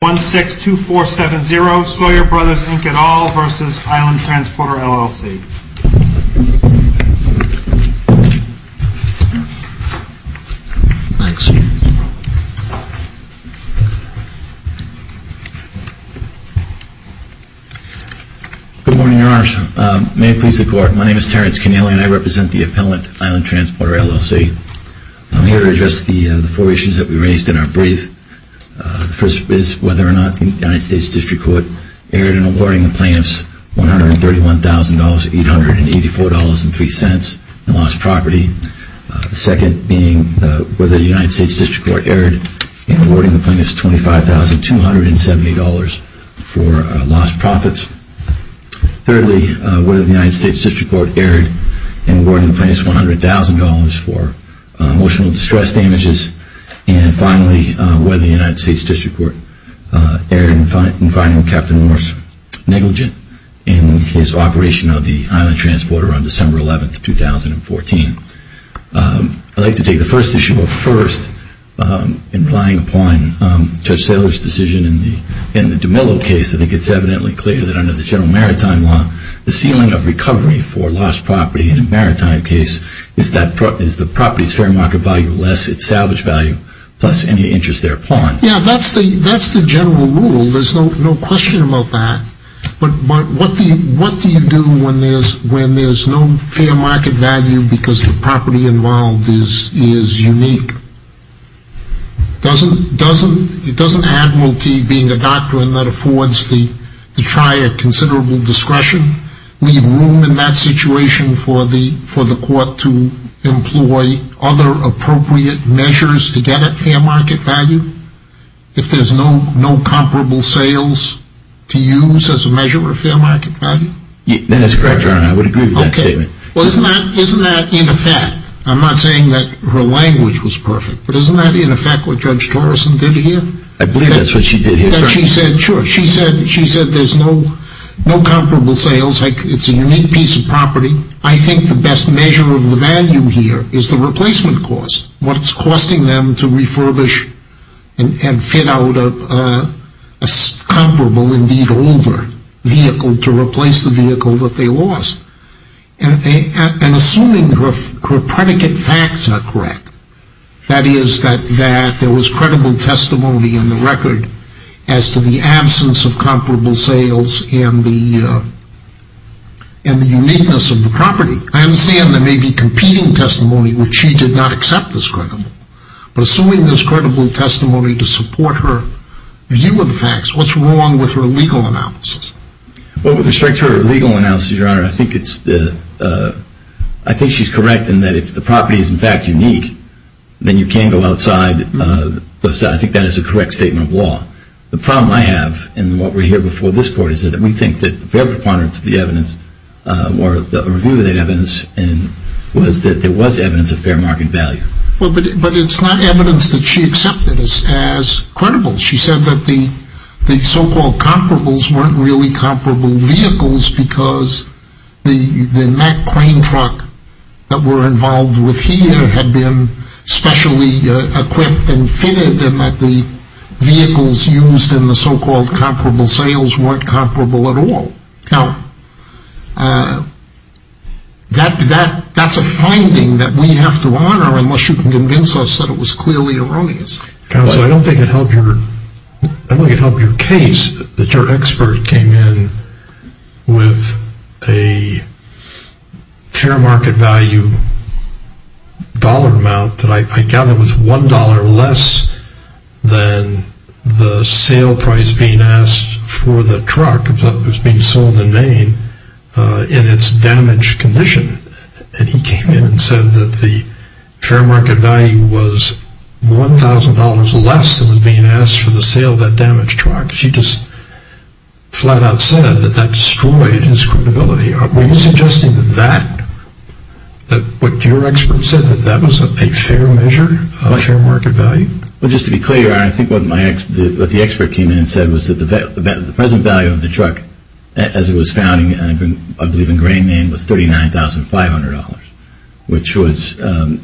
Good morning, Your Honors. May it please the Court, my name is Terrence Cannella and I represent the Appellant, Island Transporter, LLC. I'm here to address the four issues that we raised in our brief. The first is whether or not the United States District Court erred in awarding the plaintiffs $131,884.03 in lost property. The second being whether the United States District Court erred in awarding the plaintiffs $25,270 for lost profits. Thirdly, whether the United States District Court erred in awarding the plaintiffs $100,000 for emotional distress damages. And finally, whether the United States District Court erred in finding Captain Norse negligent in his operation of the Island Transporter on December 11, 2014. I'd like to take the first issue up first in relying upon Judge Saylor's decision in the DeMillo case. I think it's evidently clear that under the General Maritime Law, the ceiling of recovery for lost property in a maritime case is the property's fair market value less. It's salvage value plus any interest thereupon. Yeah, that's the general rule. There's no question about that. But what do you do when there's no fair market value because the property involved is unique? Doesn't Admiralty, being a doctrine that affords the trier considerable discretion, leave room in that situation for the court to employ other appropriate measures to get at fair market value? If there's no comparable sales to use as a measure of fair market value? That is correct, Your Honor. I would agree with that statement. Well, isn't that in effect? I'm not saying that her language was perfect, but isn't that in effect what Judge Torrison did here? I believe that's what she did here, sir. She said there's no comparable sales. It's a unique piece of property. I think the best measure of the value here is the replacement cost, what it's costing them to refurbish and fit out a comparable, indeed older, vehicle to replace the vehicle that they lost. And assuming her predicate facts are correct, that is, that there was credible testimony in the record as to the absence of comparable sales and the uniqueness of the property. I understand there may be competing testimony, which she did not accept as credible. But assuming there's credible testimony to support her view of the facts, what's wrong with her legal analysis? Well, with respect to her legal analysis, Your Honor, I think she's correct in that if the property is in fact unique, then you can go outside. I think that is a correct statement of law. The problem I have in what we hear before this Court is that we think that the fair preponderance of the evidence or the review of that evidence was that there was evidence of fair market value. But it's not evidence that she accepted as credible. She said that the so-called comparables weren't really comparable vehicles because the Mack crane truck that we're involved with here had been specially equipped and fitted and that the vehicles used in the so-called comparable sales weren't comparable at all. Now, that's a finding that we have to honor unless you can convince us that it was clearly erroneous. Counsel, I don't think it helped your case that your expert came in with a fair market value dollar amount that I gather was $1 less than the sale price being asked for the truck that was being sold in Maine in its damaged condition. And he came in and said that the fair market value was $1,000 less than was being asked for the sale of that damaged truck. She just flat out said that that destroyed his credibility. Are you suggesting that what your expert said, that that was a fair measure of fair market value? Well, just to be clear, I think what the expert came in and said was that the present value of the truck as it was found, I believe, in Gray, Maine was $39,500, which was, I'm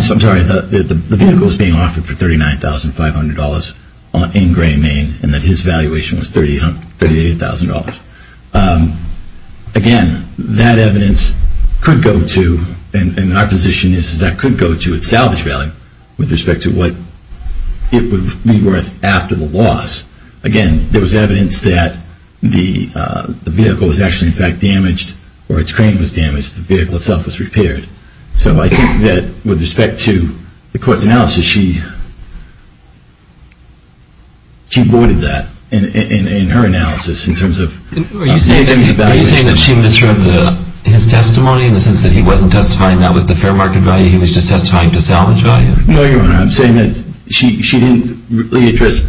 sorry, the vehicle was being offered for $39,500 in Gray, Maine, and that his valuation was $38,000. Again, that evidence could go to, and our position is that could go to its salvage value with respect to what it would be worth after the loss. Again, there was evidence that the vehicle was actually, in fact, damaged or its crane was damaged, the vehicle itself was repaired. So I think that with respect to the court's analysis, she voided that in her analysis in terms of saving the valuation. Are you saying that she misread his testimony in the sense that he wasn't testifying, that was the fair market value, he was just testifying to salvage value? No, Your Honor, I'm saying that she didn't really address,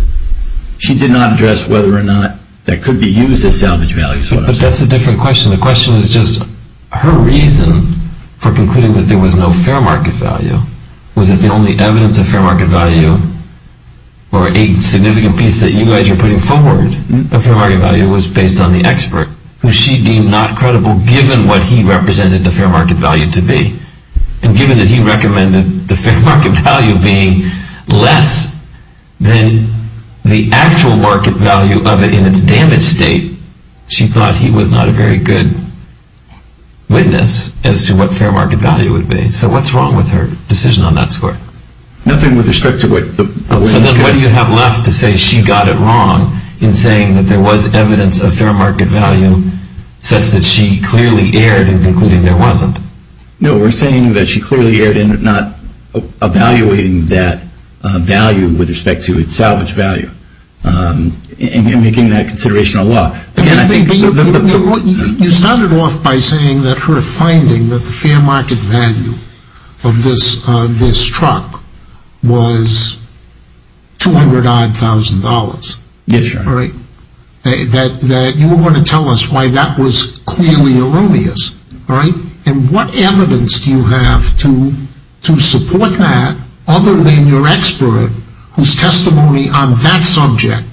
she did not address whether or not that could be used as salvage value. But that's a different question. The question is just her reason for concluding that there was no fair market value. Was it the only evidence of fair market value or a significant piece that you guys are putting forward of fair market value was based on the expert, who she deemed not credible given what he represented the fair market value to be. And given that he recommended the fair market value being less than the actual market value of it in its damaged state, she thought he was not a very good witness as to what fair market value would be. So what's wrong with her decision on that score? Nothing with respect to what the... So then what do you have left to say she got it wrong in saying that there was evidence of fair market value such that she clearly erred in concluding there wasn't? No, we're saying that she clearly erred in not evaluating that value with respect to its salvage value and making that consideration a law. You started off by saying that her finding that the fair market value of this truck was 200 odd thousand dollars. Yes, Your Honor. That you were going to tell us why that was clearly erroneous. And what evidence do you have to support that other than your expert whose testimony on that subject,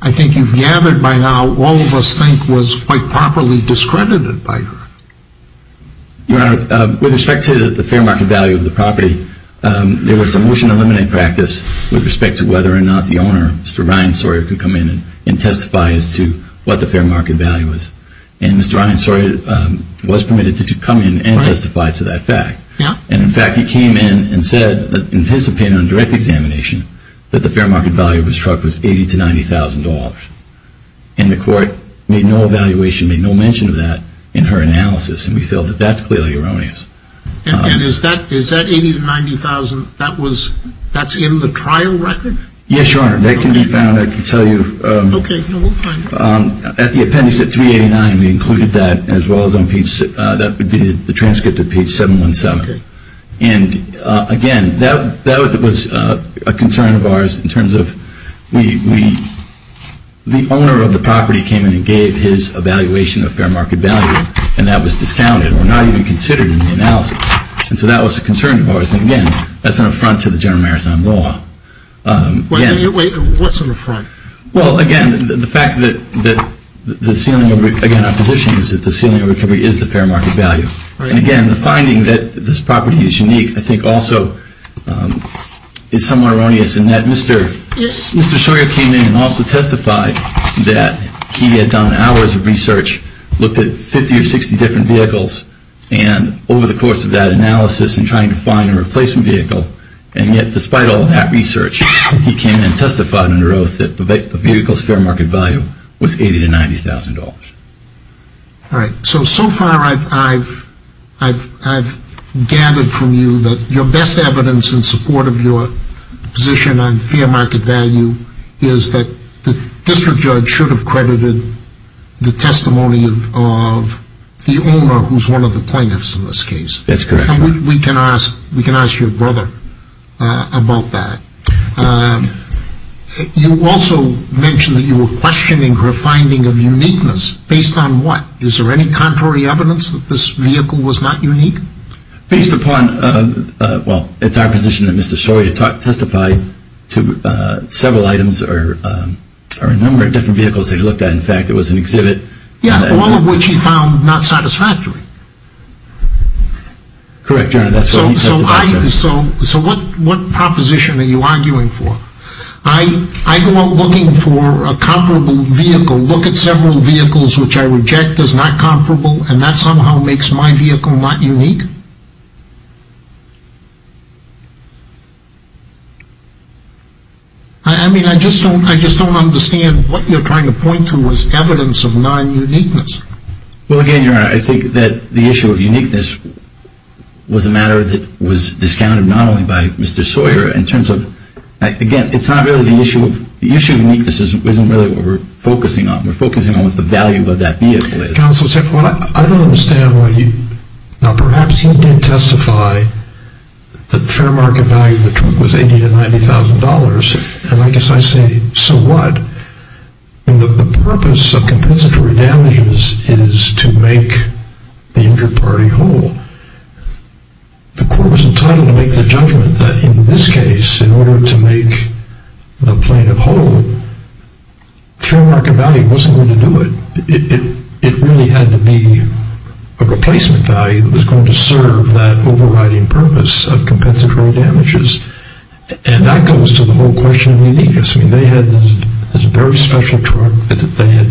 I think you've gathered by now all of us think was quite properly discredited by her. Your Honor, with respect to the fair market value of the property, there was a motion to eliminate practice with respect to whether or not the owner, Mr. Ryan Sawyer, could come in and testify as to what the fair market value was. And Mr. Ryan Sawyer was permitted to come in and testify to that fact. And, in fact, he came in and said, in his opinion on direct examination, that the fair market value of his truck was $80,000 to $90,000. And the court made no evaluation, made no mention of that in her analysis. And we feel that that's clearly erroneous. And is that $80,000 to $90,000, that's in the trial record? Yes, Your Honor. That can be found. I can tell you. Okay. No, we'll find it. At the appendix at 389, we included that as well as on page, that would be the transcript of page 717. And, again, that was a concern of ours in terms of we, the owner of the property came in and gave his evaluation of fair market value, and that was discounted or not even considered in the analysis. And so that was a concern of ours. And, again, that's an affront to the General Marathon law. What's an affront? Well, again, the fact that the ceiling of, again, opposition is that the ceiling of recovery is the fair market value. And, again, the finding that this property is unique, I think, also is somewhat erroneous in that Mr. Sawyer came in and also testified that he had done hours of research, looked at 50 or 60 different vehicles, and over the course of that analysis and trying to find a replacement vehicle, and yet despite all that research, he came in and testified under oath that the vehicle's fair market value was $80,000 to $90,000. All right. So, so far I've gathered from you that your best evidence in support of your position on fair market value is that the district judge should have credited the testimony of the owner, who's one of the plaintiffs in this case. That's correct. And we can ask your brother about that. You also mentioned that you were questioning her finding of uniqueness. Based on what? Is there any contrary evidence that this vehicle was not unique? Based upon, well, it's our position that Mr. Sawyer testified to several items or a number of different vehicles that he looked at. In fact, it was an exhibit. Yeah, all of which he found not satisfactory. Correct, Your Honor, that's what he testified to. So what proposition are you arguing for? I go out looking for a comparable vehicle, look at several vehicles which I reject as not comparable, and that somehow makes my vehicle not unique? I mean, I just don't understand what you're trying to point to as evidence of non-uniqueness. Well, again, Your Honor, I think that the issue of uniqueness was a matter that was discounted not only by Mr. Sawyer, in terms of, again, it's not really the issue of uniqueness isn't really what we're focusing on. We're focusing on what the value of that vehicle is. The counsel said, well, I don't understand why you, now perhaps he did testify that the fair market value of the truck was $80,000 to $90,000, and I guess I say, so what? I mean, the purpose of compensatory damages is to make the injured party whole. The court was entitled to make the judgment that in this case, in order to make the plaintiff whole, fair market value wasn't going to do it. It really had to be a replacement value that was going to serve that overriding purpose of compensatory damages, and that goes to the whole question of uniqueness. I mean, they had this very special truck that they had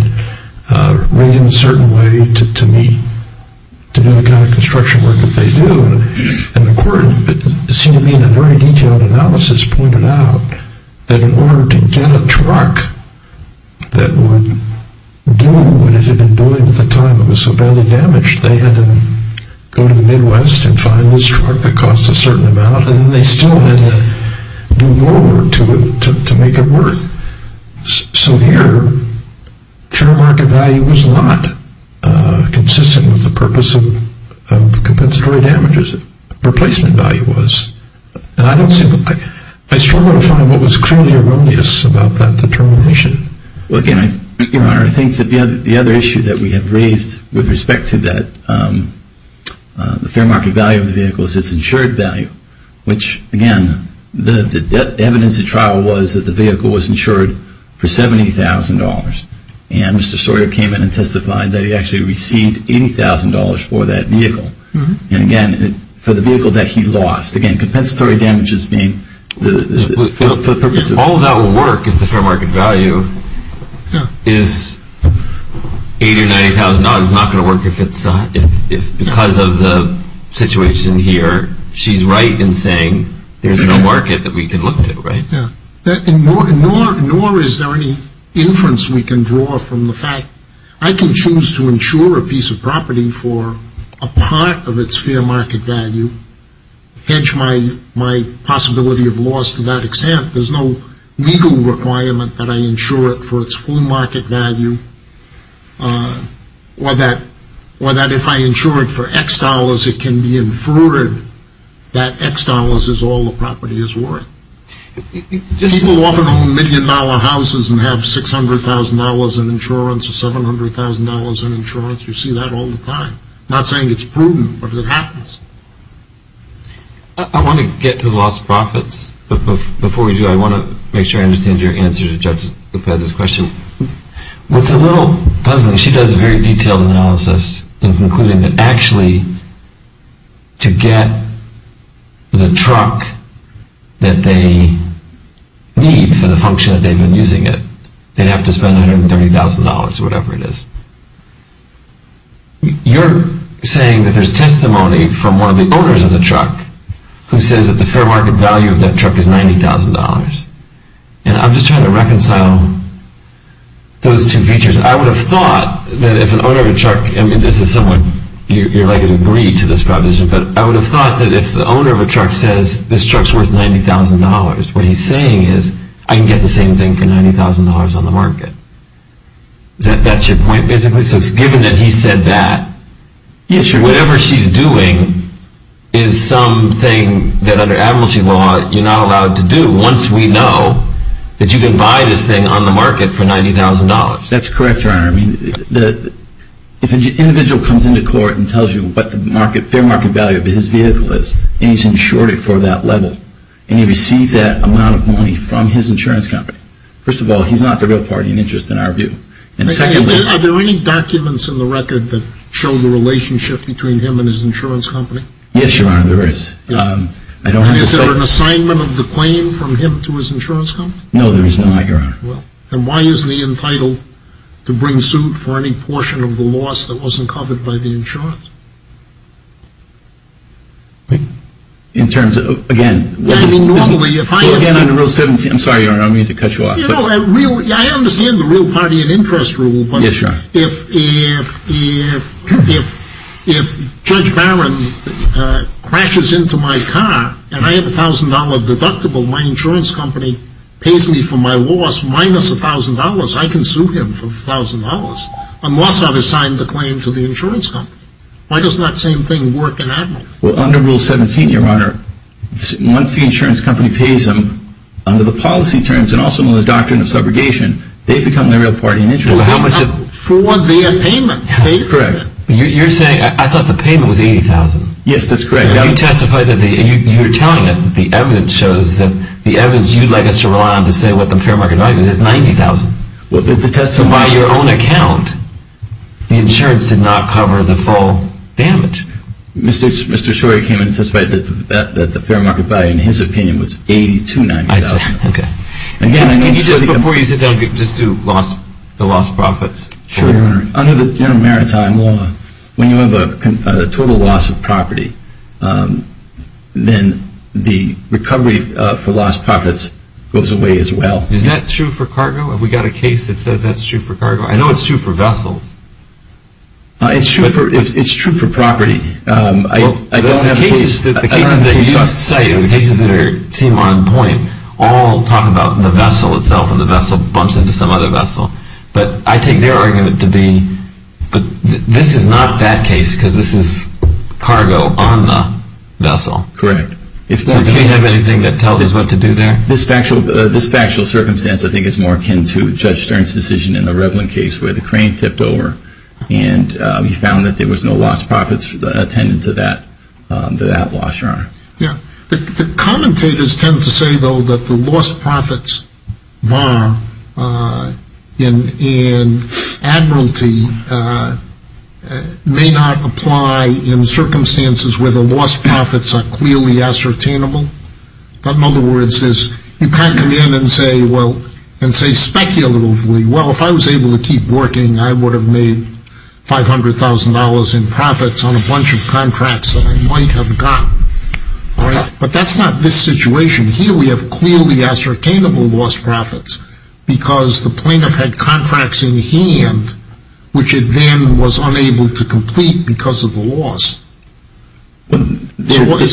made in a certain way to do the kind of construction work that they do, and the court, it seemed to me in a very detailed analysis, pointed out that in order to get a truck that would do what it had been doing at the time that was so badly damaged, they had to go to the Midwest and find this truck that cost a certain amount, and then they still had to do more work to make it work. So here, fair market value was not consistent with the purpose of compensatory damages. Replacement value was. And I struggle to find what was clearly erroneous about that determination. Well, again, Your Honor, I think that the other issue that we have raised with respect to that, the fair market value of the vehicle is its insured value, which, again, the evidence at trial was that the vehicle was insured for $70,000, and Mr. Sawyer came in and testified that he actually received $80,000 for that vehicle. And again, for the vehicle that he lost, again, compensatory damages being the purpose of. All of that would work if the fair market value is $80,000 or $90,000. No, it's not going to work because of the situation here. She's right in saying there's no market that we can look to, right? Nor is there any inference we can draw from the fact I can choose to insure a piece of property for a part of its fair market value, hedge my possibility of loss to that extent. There's no legal requirement that I insure it for its full market value or that if I insure it for X dollars it can be inferred that X dollars is all the property is worth. People often own million-dollar houses and have $600,000 in insurance or $700,000 in insurance. You see that all the time. I'm not saying it's prudent, but it happens. I want to get to the lost profits, but before we do, I want to make sure I understand your answer to Judge Lopez's question. What's a little puzzling, she does a very detailed analysis in concluding that actually to get the truck that they need for the function that they've been using it, they'd have to spend $130,000 or whatever it is. You're saying that there's testimony from one of the owners of the truck who says that the fair market value of that truck is $90,000. And I'm just trying to reconcile those two features. I would have thought that if an owner of a truck, and this is someone you're likely to agree to this proposition, but I would have thought that if the owner of a truck says this truck's worth $90,000, what he's saying is I can get the same thing for $90,000 on the market. That's your point basically? So it's given that he said that, whatever she's doing is something that under amnesty law you're not allowed to do once we know that you can buy this thing on the market for $90,000. That's correct, Your Honor. If an individual comes into court and tells you what the fair market value of his vehicle is, and he's insured it for that level, and he received that amount of money from his insurance company, first of all, he's not the real party in interest in our view. Are there any documents in the record that show the relationship between him and his insurance company? Yes, Your Honor, there is. And is there an assignment of the claim from him to his insurance company? No, there is not, Your Honor. And why isn't he entitled to bring suit for any portion of the loss that wasn't covered by the insurance? In terms of, again, under Rule 17, I'm sorry, Your Honor, I don't mean to cut you off. You know, I understand the real party in interest rule, but if Judge Barron crashes into my car and I have a $1,000 deductible, my insurance company pays me for my loss minus $1,000, I can sue him for $1,000 unless I've assigned the claim to the insurance company. Why doesn't that same thing work in Admirals? Well, under Rule 17, Your Honor, once the insurance company pays him under the policy terms and also under the doctrine of subrogation, they become the real party in interest. For their payment. Correct. You're saying, I thought the payment was $80,000. Yes, that's correct. You testified that, you're telling us that the evidence shows that the evidence you'd like us to rely on to say what the fair market value is, is $90,000. But by your own account, the insurance did not cover the full damage. Mr. Shorey came and testified that the fair market value, in his opinion, was $80,000 to $90,000. I see. Okay. Again, I can assure you that... Before you sit down, just do the lost profits. Sure. Under the General Maritime Law, when you have a total loss of property, then the recovery for lost profits goes away as well. Is that true for cargo? Have we got a case that says that's true for cargo? I know it's true for vessels. It's true for property. The cases that you cite, the cases that seem on point, all talk about the vessel itself and the vessel bumps into some other vessel. But I take their argument to be, this is not that case because this is cargo on the vessel. Correct. So do we have anything that tells us what to do there? This factual circumstance, I think, is more akin to Judge Stern's decision in the Revlin case where the crane tipped over and he found that there was no lost profits attended to that loss, Your Honor. Yeah. The commentators tend to say, though, that the lost profits bar in admiralty may not apply in circumstances where the lost profits are clearly ascertainable. But in other words, you can't come in and say speculatively, well, if I was able to keep working, I would have made $500,000 in profits on a bunch of contracts that I might have gotten. But that's not this situation. Here we have clearly ascertainable lost profits because the plaintiff had contracts in hand which it then was unable to complete because of the loss. Theoretically,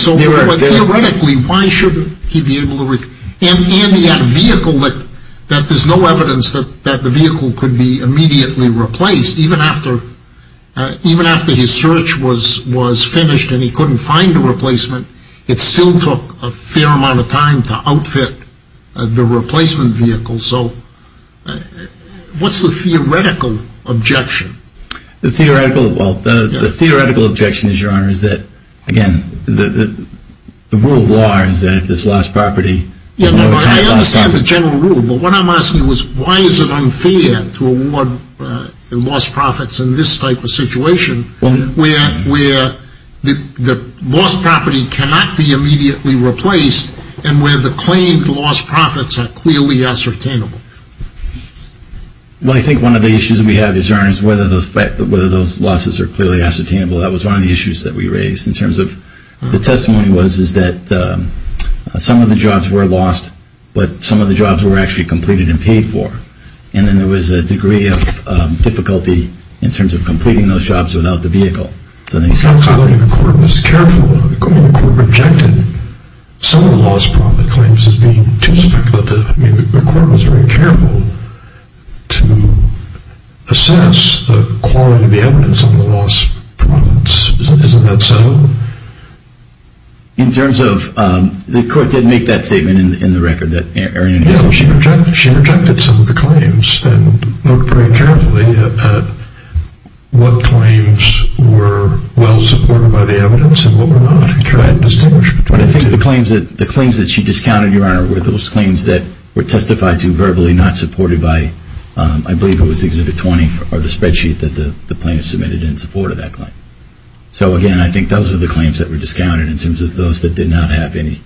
why shouldn't he be able to replace? And he had a vehicle that there's no evidence that the vehicle could be immediately replaced. Even after his search was finished and he couldn't find a replacement, it still took a fair amount of time to outfit the replacement vehicle. So what's the theoretical objection? Well, the theoretical objection is, Your Honor, is that, again, the rule of law is that if there's lost property, you know, I understand the general rule, but what I'm asking is, why is it unfair to award lost profits in this type of situation where the lost property cannot be immediately replaced and where the claimed lost profits are clearly ascertainable? Well, I think one of the issues we have is, Your Honor, is whether those losses are clearly ascertainable. That was one of the issues that we raised in terms of the testimony was, is that some of the jobs were lost, but some of the jobs were actually completed and paid for. And then there was a degree of difficulty in terms of completing those jobs without the vehicle. The court was careful. The court rejected some of the lost profit claims as being too speculative. I mean, the court was very careful to assess the quality of the evidence on the lost profits. Isn't that so? In terms of, the court did make that statement in the record that Erin had given. Yeah, she rejected some of the claims and looked very carefully at what claims were well supported by the evidence and what were not and tried to distinguish between the two. But I think the claims that she discounted, Your Honor, were those claims that were testified to verbally not supported by, I believe it was Exhibit 20, or the spreadsheet that the plaintiff submitted in support of that claim. So again, I think those are the claims that were discounted in terms of those that did not have any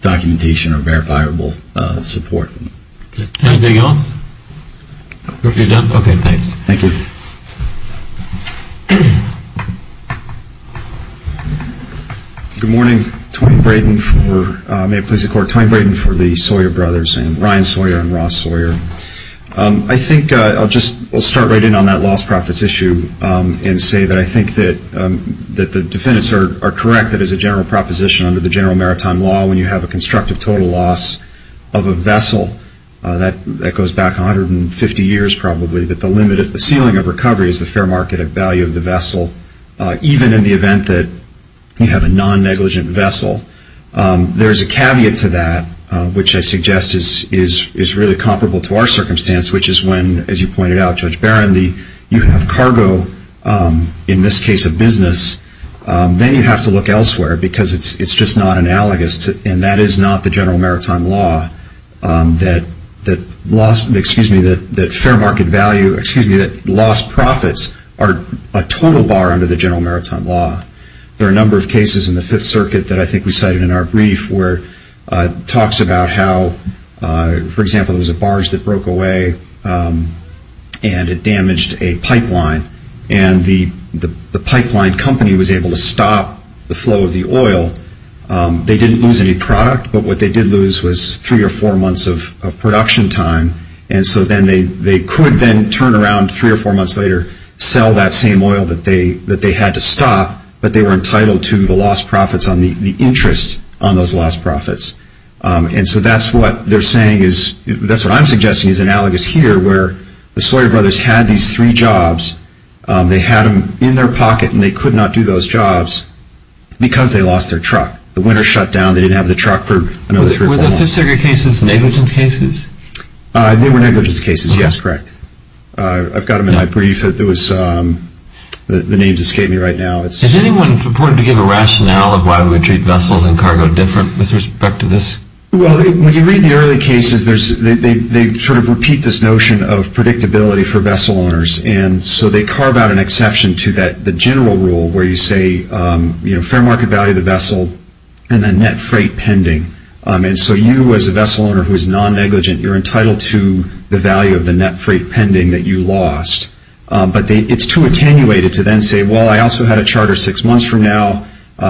documentation or verifiable support. Anything else? Okay, thanks. Thank you. Good morning. Tony Braden for, may it please the Court, Tony Braden for the Sawyer Brothers, and Ryan Sawyer and Ross Sawyer. I think I'll just start right in on that lost profits issue and say that I think that the defendants are correct that as a general proposition under the general maritime law, when you have a constructive total loss of a vessel that goes back 150 years probably, that the ceiling of recovery is the fair market value of the vessel, even in the event that you have a non-negligent vessel. There's a caveat to that, which I suggest is really comparable to our circumstance, which is when, as you pointed out, Judge Barron, you have cargo, in this case a business, then you have to look elsewhere because it's just not analogous, and that is not the general maritime law that fair market value, excuse me, that lost profits are a total bar under the general maritime law. There are a number of cases in the Fifth Circuit that I think we cited in our brief where it talks about how, for example, there was a barge that broke away and it damaged a pipeline, and the pipeline company was able to stop the flow of the oil. They didn't lose any product, but what they did lose was three or four months of production time, and so then they could then turn around three or four months later, sell that same oil that they had to stop, but they were entitled to the lost profits on the interest on those lost profits. And so that's what they're saying is, that's what I'm suggesting is analogous here, where the Sawyer brothers had these three jobs, they had them in their pocket, and they could not do those jobs because they lost their truck. The winter shut down, they didn't have the truck for another three or four months. Were the Fifth Circuit cases negligence cases? They were negligence cases, yes, correct. I've got them in my brief. The names escape me right now. Has anyone purported to give a rationale of why we treat vessels and cargo different with respect to this? Well, when you read the early cases, they sort of repeat this notion of predictability for vessel owners, and so they carve out an exception to the general rule where you say, you know, fair market value of the vessel and the net freight pending. And so you as a vessel owner who is non-negligent, you're entitled to the value of the net freight pending that you lost. But it's too attenuated to then say, well, I also had a charter six months from now.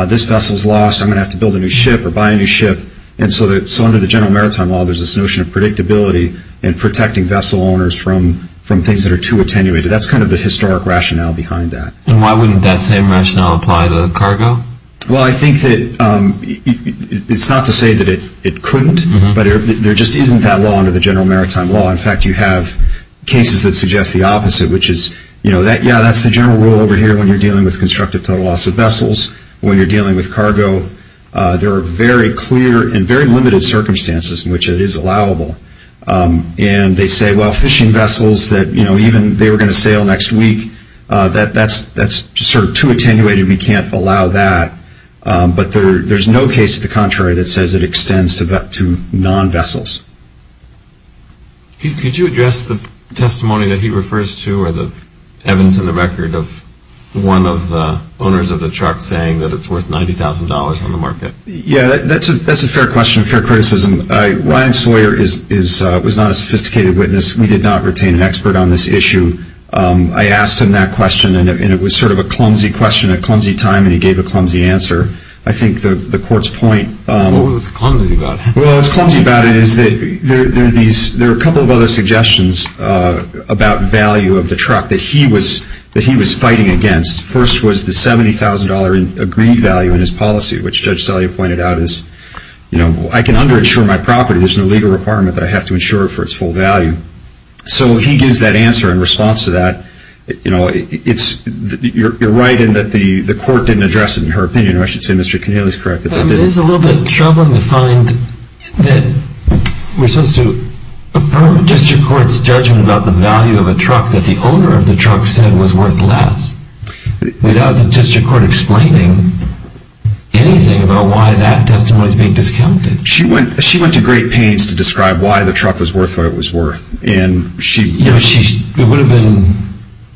This vessel's lost. I'm going to have to build a new ship or buy a new ship. And so under the General Maritime Law, there's this notion of predictability and protecting vessel owners from things that are too attenuated. That's kind of the historic rationale behind that. And why wouldn't that same rationale apply to cargo? Well, I think that it's not to say that it couldn't, but there just isn't that law under the General Maritime Law. In fact, you have cases that suggest the opposite, which is, you know, yeah, that's the general rule over here when you're dealing with constructive total loss of vessels. When you're dealing with cargo, there are very clear and very limited circumstances in which it is allowable. And they say, well, fishing vessels that, you know, even they were going to sail next week, that's sort of too attenuated and we can't allow that. But there's no case to the contrary that says it extends to non-vessels. Could you address the testimony that he refers to or the evidence in the record of one of the owners of the truck saying that it's worth $90,000 on the market? Yeah, that's a fair question, fair criticism. Ryan Sawyer was not a sophisticated witness. We did not retain an expert on this issue. I asked him that question, and it was sort of a clumsy question, a clumsy time, and he gave a clumsy answer. I think the Court's point— What was it that's clumsy about it? Well, what's clumsy about it is that there are a couple of other suggestions about value of the truck that he was fighting against. First was the $70,000 agreed value in his policy, which Judge Sellier pointed out is, you know, I can underinsure my property. There's no legal requirement that I have to insure it for its full value. So he gives that answer in response to that. You know, it's—you're right in that the Court didn't address it in her opinion, or I should say Mr. Keneally's correct. It is a little bit troubling to find that we're supposed to affirm district court's judgment about the value of a truck that the owner of the truck said was worth less without the district court explaining anything about why that testimony is being discounted. She went to great pains to describe why the truck was worth what it was worth, and she— You know, she—it would have been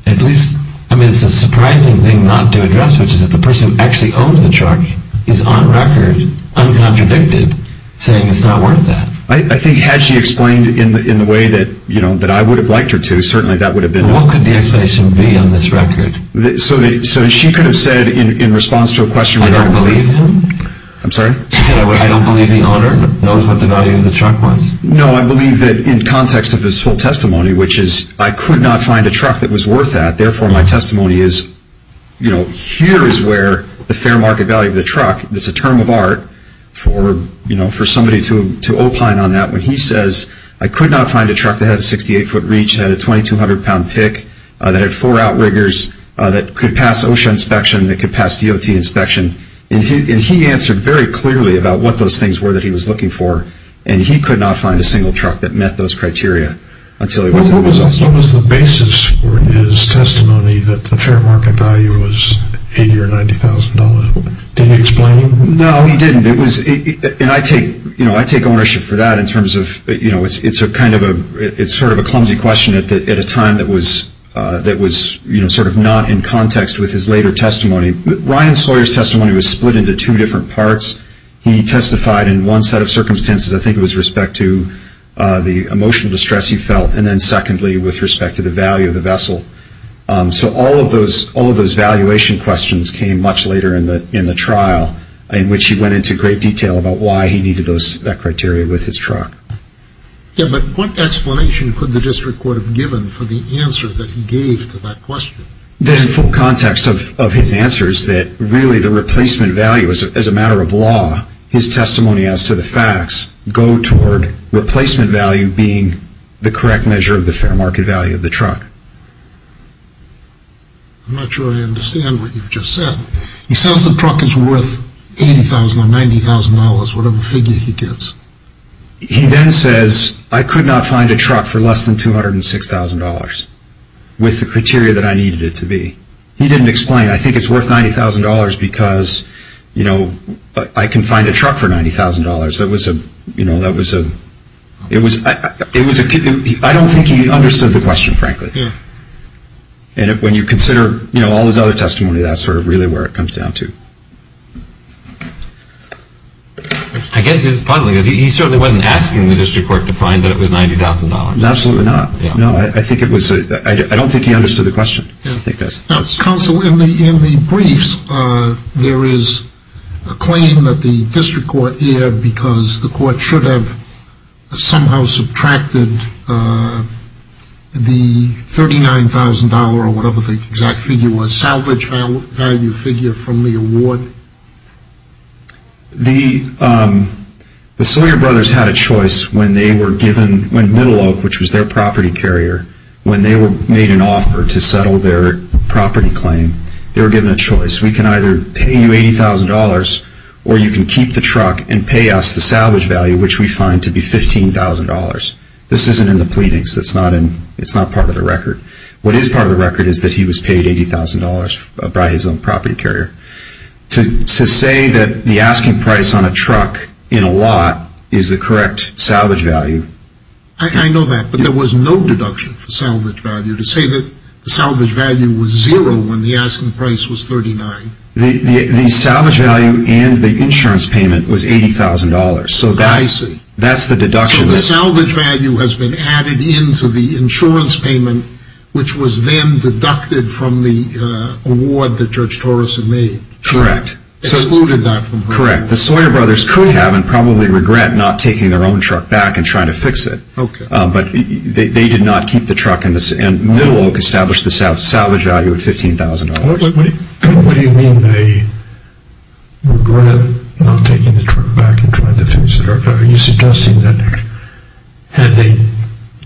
at least—I mean, it's a surprising thing not to address, which is that the person who actually owns the truck is on record, uncontradicted, saying it's not worth that. I think had she explained in the way that, you know, that I would have liked her to, certainly that would have been— What could the explanation be on this record? So she could have said in response to a question— I don't believe him? I'm sorry? She said, I don't believe the owner knows what the value of the truck was? No, I believe that in context of his full testimony, which is, I could not find a truck that was worth that. Therefore, my testimony is, you know, here is where the fair market value of the truck, it's a term of art for, you know, for somebody to opine on that. When he says, I could not find a truck that had a 68-foot reach, had a 2,200-pound pick, that had four outriggers, that could pass OSHA inspection, that could pass DOT inspection, and he answered very clearly about what those things were that he was looking for, and he could not find a single truck that met those criteria until he was— What was the basis for his testimony that the fair market value was $80,000 or $90,000? Did he explain? No, he didn't. It was—and I take, you know, I take ownership for that in terms of, you know, it's a kind of a—it's sort of a clumsy question at a time that was, you know, sort of not in context with his later testimony. Ryan Sawyer's testimony was split into two different parts. He testified in one set of circumstances, I think it was respect to the emotional distress he felt, and then secondly, with respect to the value of the vessel. So all of those valuation questions came much later in the trial, in which he went into great detail about why he needed that criteria with his truck. Yeah, but what explanation could the district court have given for the answer that he gave to that question? The full context of his answer is that really the replacement value, as a matter of law, his testimony as to the facts, go toward replacement value being the correct measure of the fair market value of the truck. I'm not sure I understand what you've just said. He says the truck is worth $80,000 or $90,000, whatever figure he gives. He then says, I could not find a truck for less than $206,000 with the criteria that I needed it to be. He didn't explain. I think it's worth $90,000 because, you know, I can find a truck for $90,000. That was a, you know, that was a, it was, I don't think he understood the question, frankly. Yeah. And when you consider, you know, all his other testimony, that's sort of really where it comes down to. I guess it's puzzling because he certainly wasn't asking the district court to find that it was $90,000. Absolutely not. No, I think it was, I don't think he understood the question. Counsel, in the briefs, there is a claim that the district court erred because the court should have somehow subtracted the $39,000 or whatever the exact figure was, salvage value figure from the award. The Sawyer brothers had a choice when they were given, when Middle Oak, which was their property carrier, when they were made an offer to settle their property claim, they were given a choice. We can either pay you $80,000 or you can keep the truck and pay us the salvage value, which we find to be $15,000. This isn't in the pleadings. It's not in, it's not part of the record. What is part of the record is that he was paid $80,000 by his own property carrier. To say that the asking price on a truck in a lot is the correct salvage value. I know that, but there was no deduction for salvage value. To say that the salvage value was zero when the asking price was $39,000. The salvage value and the insurance payment was $80,000. I see. So that's the deduction. So the salvage value has been added into the insurance payment, which was then deducted from the award that George Torreson made. Correct. Excluded that from her. Correct. The Sawyer brothers could have and probably regret not taking their own truck back and trying to fix it. Okay. But they did not keep the truck and Middle Oak established the salvage value at $15,000. What do you mean they regret not taking the truck back and trying to fix it? Are you suggesting that had they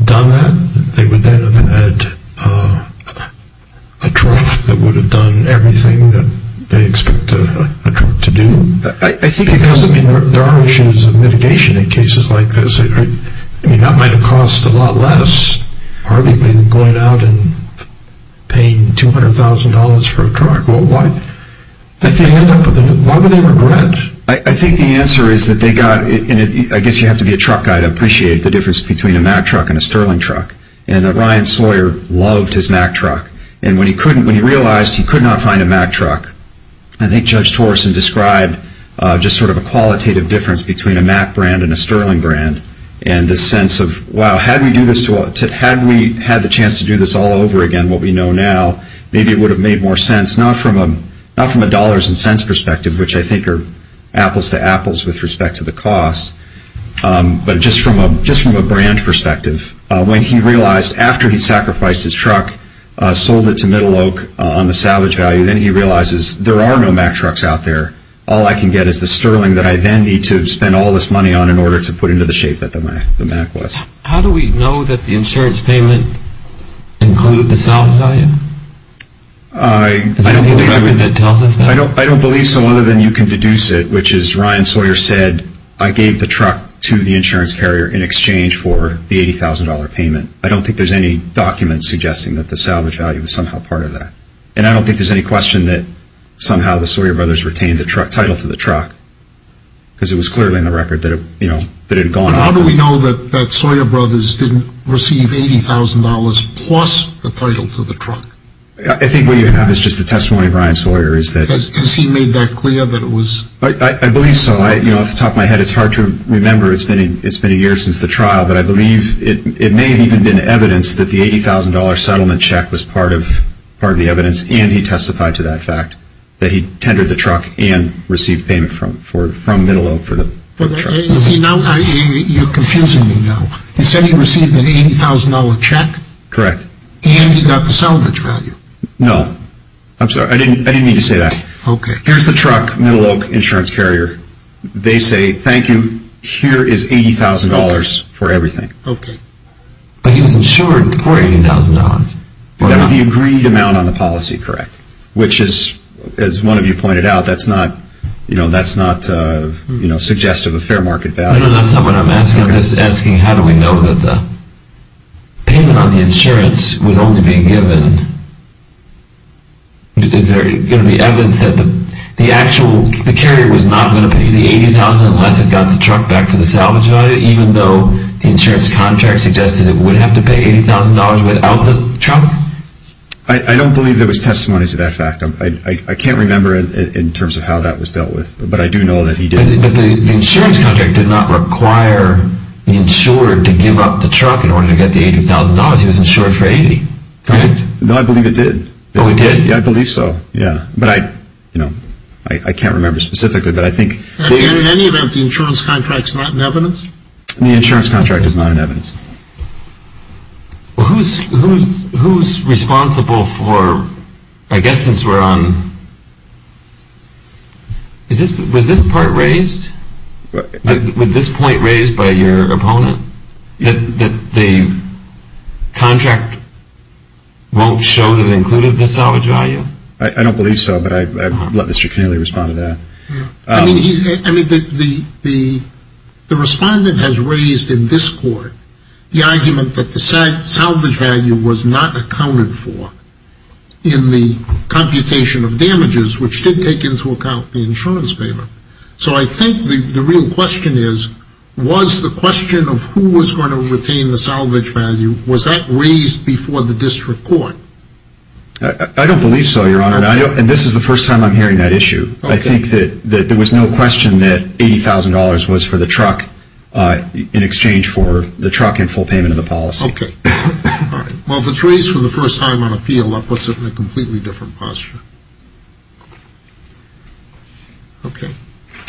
done that, they would then have had a truck that would have done everything that they expect a truck to do? There are issues of mitigation in cases like this. That might have cost a lot less. Hardly been going out and paying $200,000 for a truck. Why would they regret? I think the answer is that they got, and I guess you have to be a truck guy to appreciate the difference between a Mack truck and a Sterling truck, and that Ryan Sawyer loved his Mack truck. And when he realized he could not find a Mack truck, I think Judge Torreson described just sort of a qualitative difference between a Mack brand and a Sterling brand, and this sense of, wow, had we had the chance to do this all over again, what we know now, maybe it would have made more sense, not from a dollars and cents perspective, which I think are apples to apples with respect to the cost, but just from a brand perspective. When he realized, after he sacrificed his truck, sold it to Middle Oak on the salvage value, then he realizes there are no Mack trucks out there. All I can get is the Sterling that I then need to spend all this money on in order to put into the shape that the Mack was. How do we know that the insurance payment included the salvage value? Is there any way that tells us that? I don't believe so other than you can deduce it, which is, Ryan Sawyer said, I gave the truck to the insurance carrier in exchange for the $80,000 payment. I don't think there's any document suggesting that the salvage value was somehow part of that, and I don't think there's any question that somehow the Sawyer brothers retained the title to the truck, because it was clearly in the record that it had gone off. But how do we know that Sawyer brothers didn't receive $80,000 plus the title to the truck? I think what you have is just the testimony of Ryan Sawyer. Has he made that clear that it was? I believe so. Off the top of my head, it's hard to remember. It's been a year since the trial, but I believe it may have even been evidence that the $80,000 settlement check was part of the evidence, and he testified to that fact, that he tendered the truck and received payment from Middle Oak for the truck. You're confusing me now. He said he received an $80,000 check? Correct. And he got the salvage value? No. I'm sorry. I didn't mean to say that. Okay. Here's the truck, Middle Oak insurance carrier. They say, thank you. Here is $80,000 for everything. Okay. But he was insured for $80,000. That was the agreed amount on the policy, correct? Which is, as one of you pointed out, that's not suggestive of fair market value. No, that's not what I'm asking. I'm just asking how do we know that the payment on the insurance was only being given? Is there going to be evidence that the carrier was not going to pay the $80,000 unless it got the truck back for the salvage value, even though the insurance contract suggested it would have to pay $80,000 without the truck? I don't believe there was testimony to that fact. I can't remember in terms of how that was dealt with, but I do know that he did. But the insurance contract did not require the insurer to give up the truck in order to get the $80,000. He was insured for $80,000. No, I believe it did. Oh, it did? Yeah, I believe so. But I can't remember specifically. In any event, the insurance contract is not in evidence? The insurance contract is not in evidence. Who's responsible for, I guess since we're on, was this part raised? Was this point raised by your opponent, that the contract won't show that it included the salvage value? I don't believe so, but I'd let Mr. Keneally respond to that. The respondent has raised in this court the argument that the salvage value was not accounted for in the computation of damages, which did take into account the insurance payment. So I think the real question is, was the question of who was going to retain the salvage value, was that raised before the district court? I don't believe so, Your Honor, and this is the first time I'm hearing that issue. I think that there was no question that $80,000 was for the truck in exchange for the truck in full payment of the policy. Okay. All right. Well, if it's raised for the first time on appeal, that puts it in a completely different posture. Okay.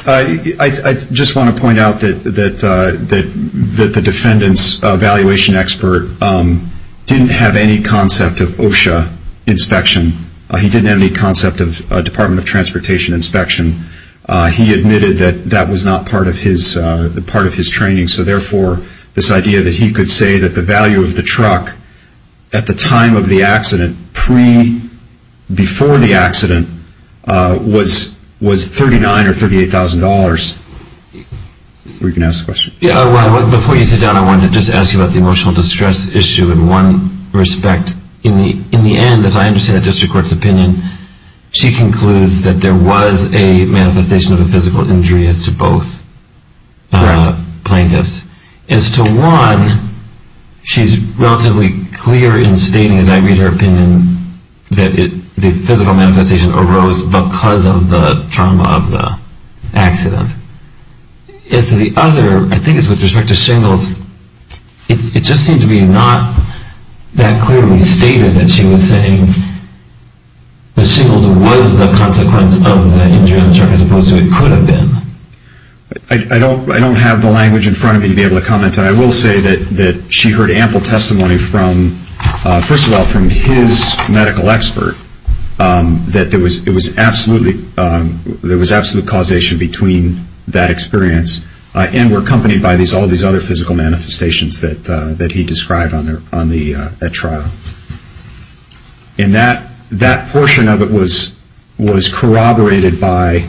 I just want to point out that the defendant's valuation expert didn't have any concept of OSHA inspection. He didn't have any concept of Department of Transportation inspection. He admitted that that was not part of his training, so therefore this idea that he could say that the value of the truck at the time of the accident, pre-before the accident, was $39,000 or $38,000. You can ask the question. Before you sit down, I wanted to just ask you about the emotional distress issue in one respect. In the end, as I understand the district court's opinion, she concludes that there was a manifestation of a physical injury as to both plaintiffs. As to one, she's relatively clear in stating, as I read her opinion, that the physical manifestation arose because of the trauma of the accident. As to the other, I think it's with respect to shingles, it just seemed to be not that clearly stated that she was saying the shingles was the consequence of the injury on the truck as opposed to it could have been. I don't have the language in front of me to be able to comment. I will say that she heard ample testimony from, first of all, from his medical expert, that there was absolute causation between that experience and were accompanied by all these other physical manifestations that he described on the trial. And that portion of it was corroborated by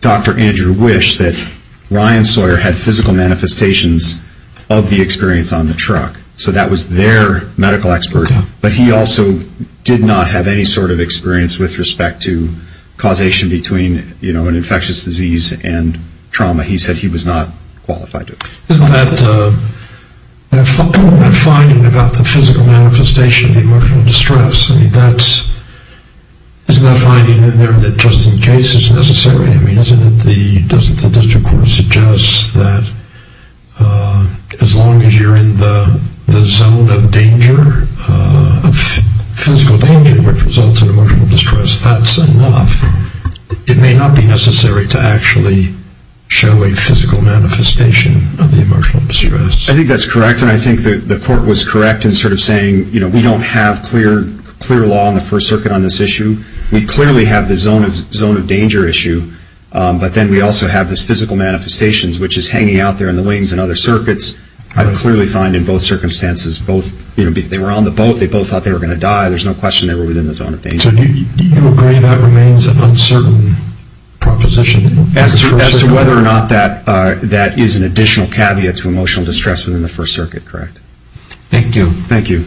Dr. Andrew Wish, that Ryan Sawyer had physical manifestations of the experience on the truck. So that was their medical expert, but he also did not have any sort of experience with respect to causation between, you know, an infectious disease and trauma. He said he was not qualified to. Isn't that finding about the physical manifestation of the emotional distress, isn't that finding in there that just in case is necessary? I mean, doesn't the district court suggest that as long as you're in the zone of danger, physical danger which results in emotional distress, that's enough. It may not be necessary to actually show a physical manifestation of the emotional distress. I think that's correct, and I think the court was correct in sort of saying, you know, we don't have clear law in the First Circuit on this issue. We clearly have the zone of danger issue, but then we also have this physical manifestation which is hanging out there in the wings in other circuits. I clearly find in both circumstances, both, you know, they were on the boat. They both thought they were going to die. There's no question they were within the zone of danger. So do you agree that remains an uncertain proposition? As to whether or not that is an additional caveat to emotional distress within the First Circuit, correct. Thank you. Thank you.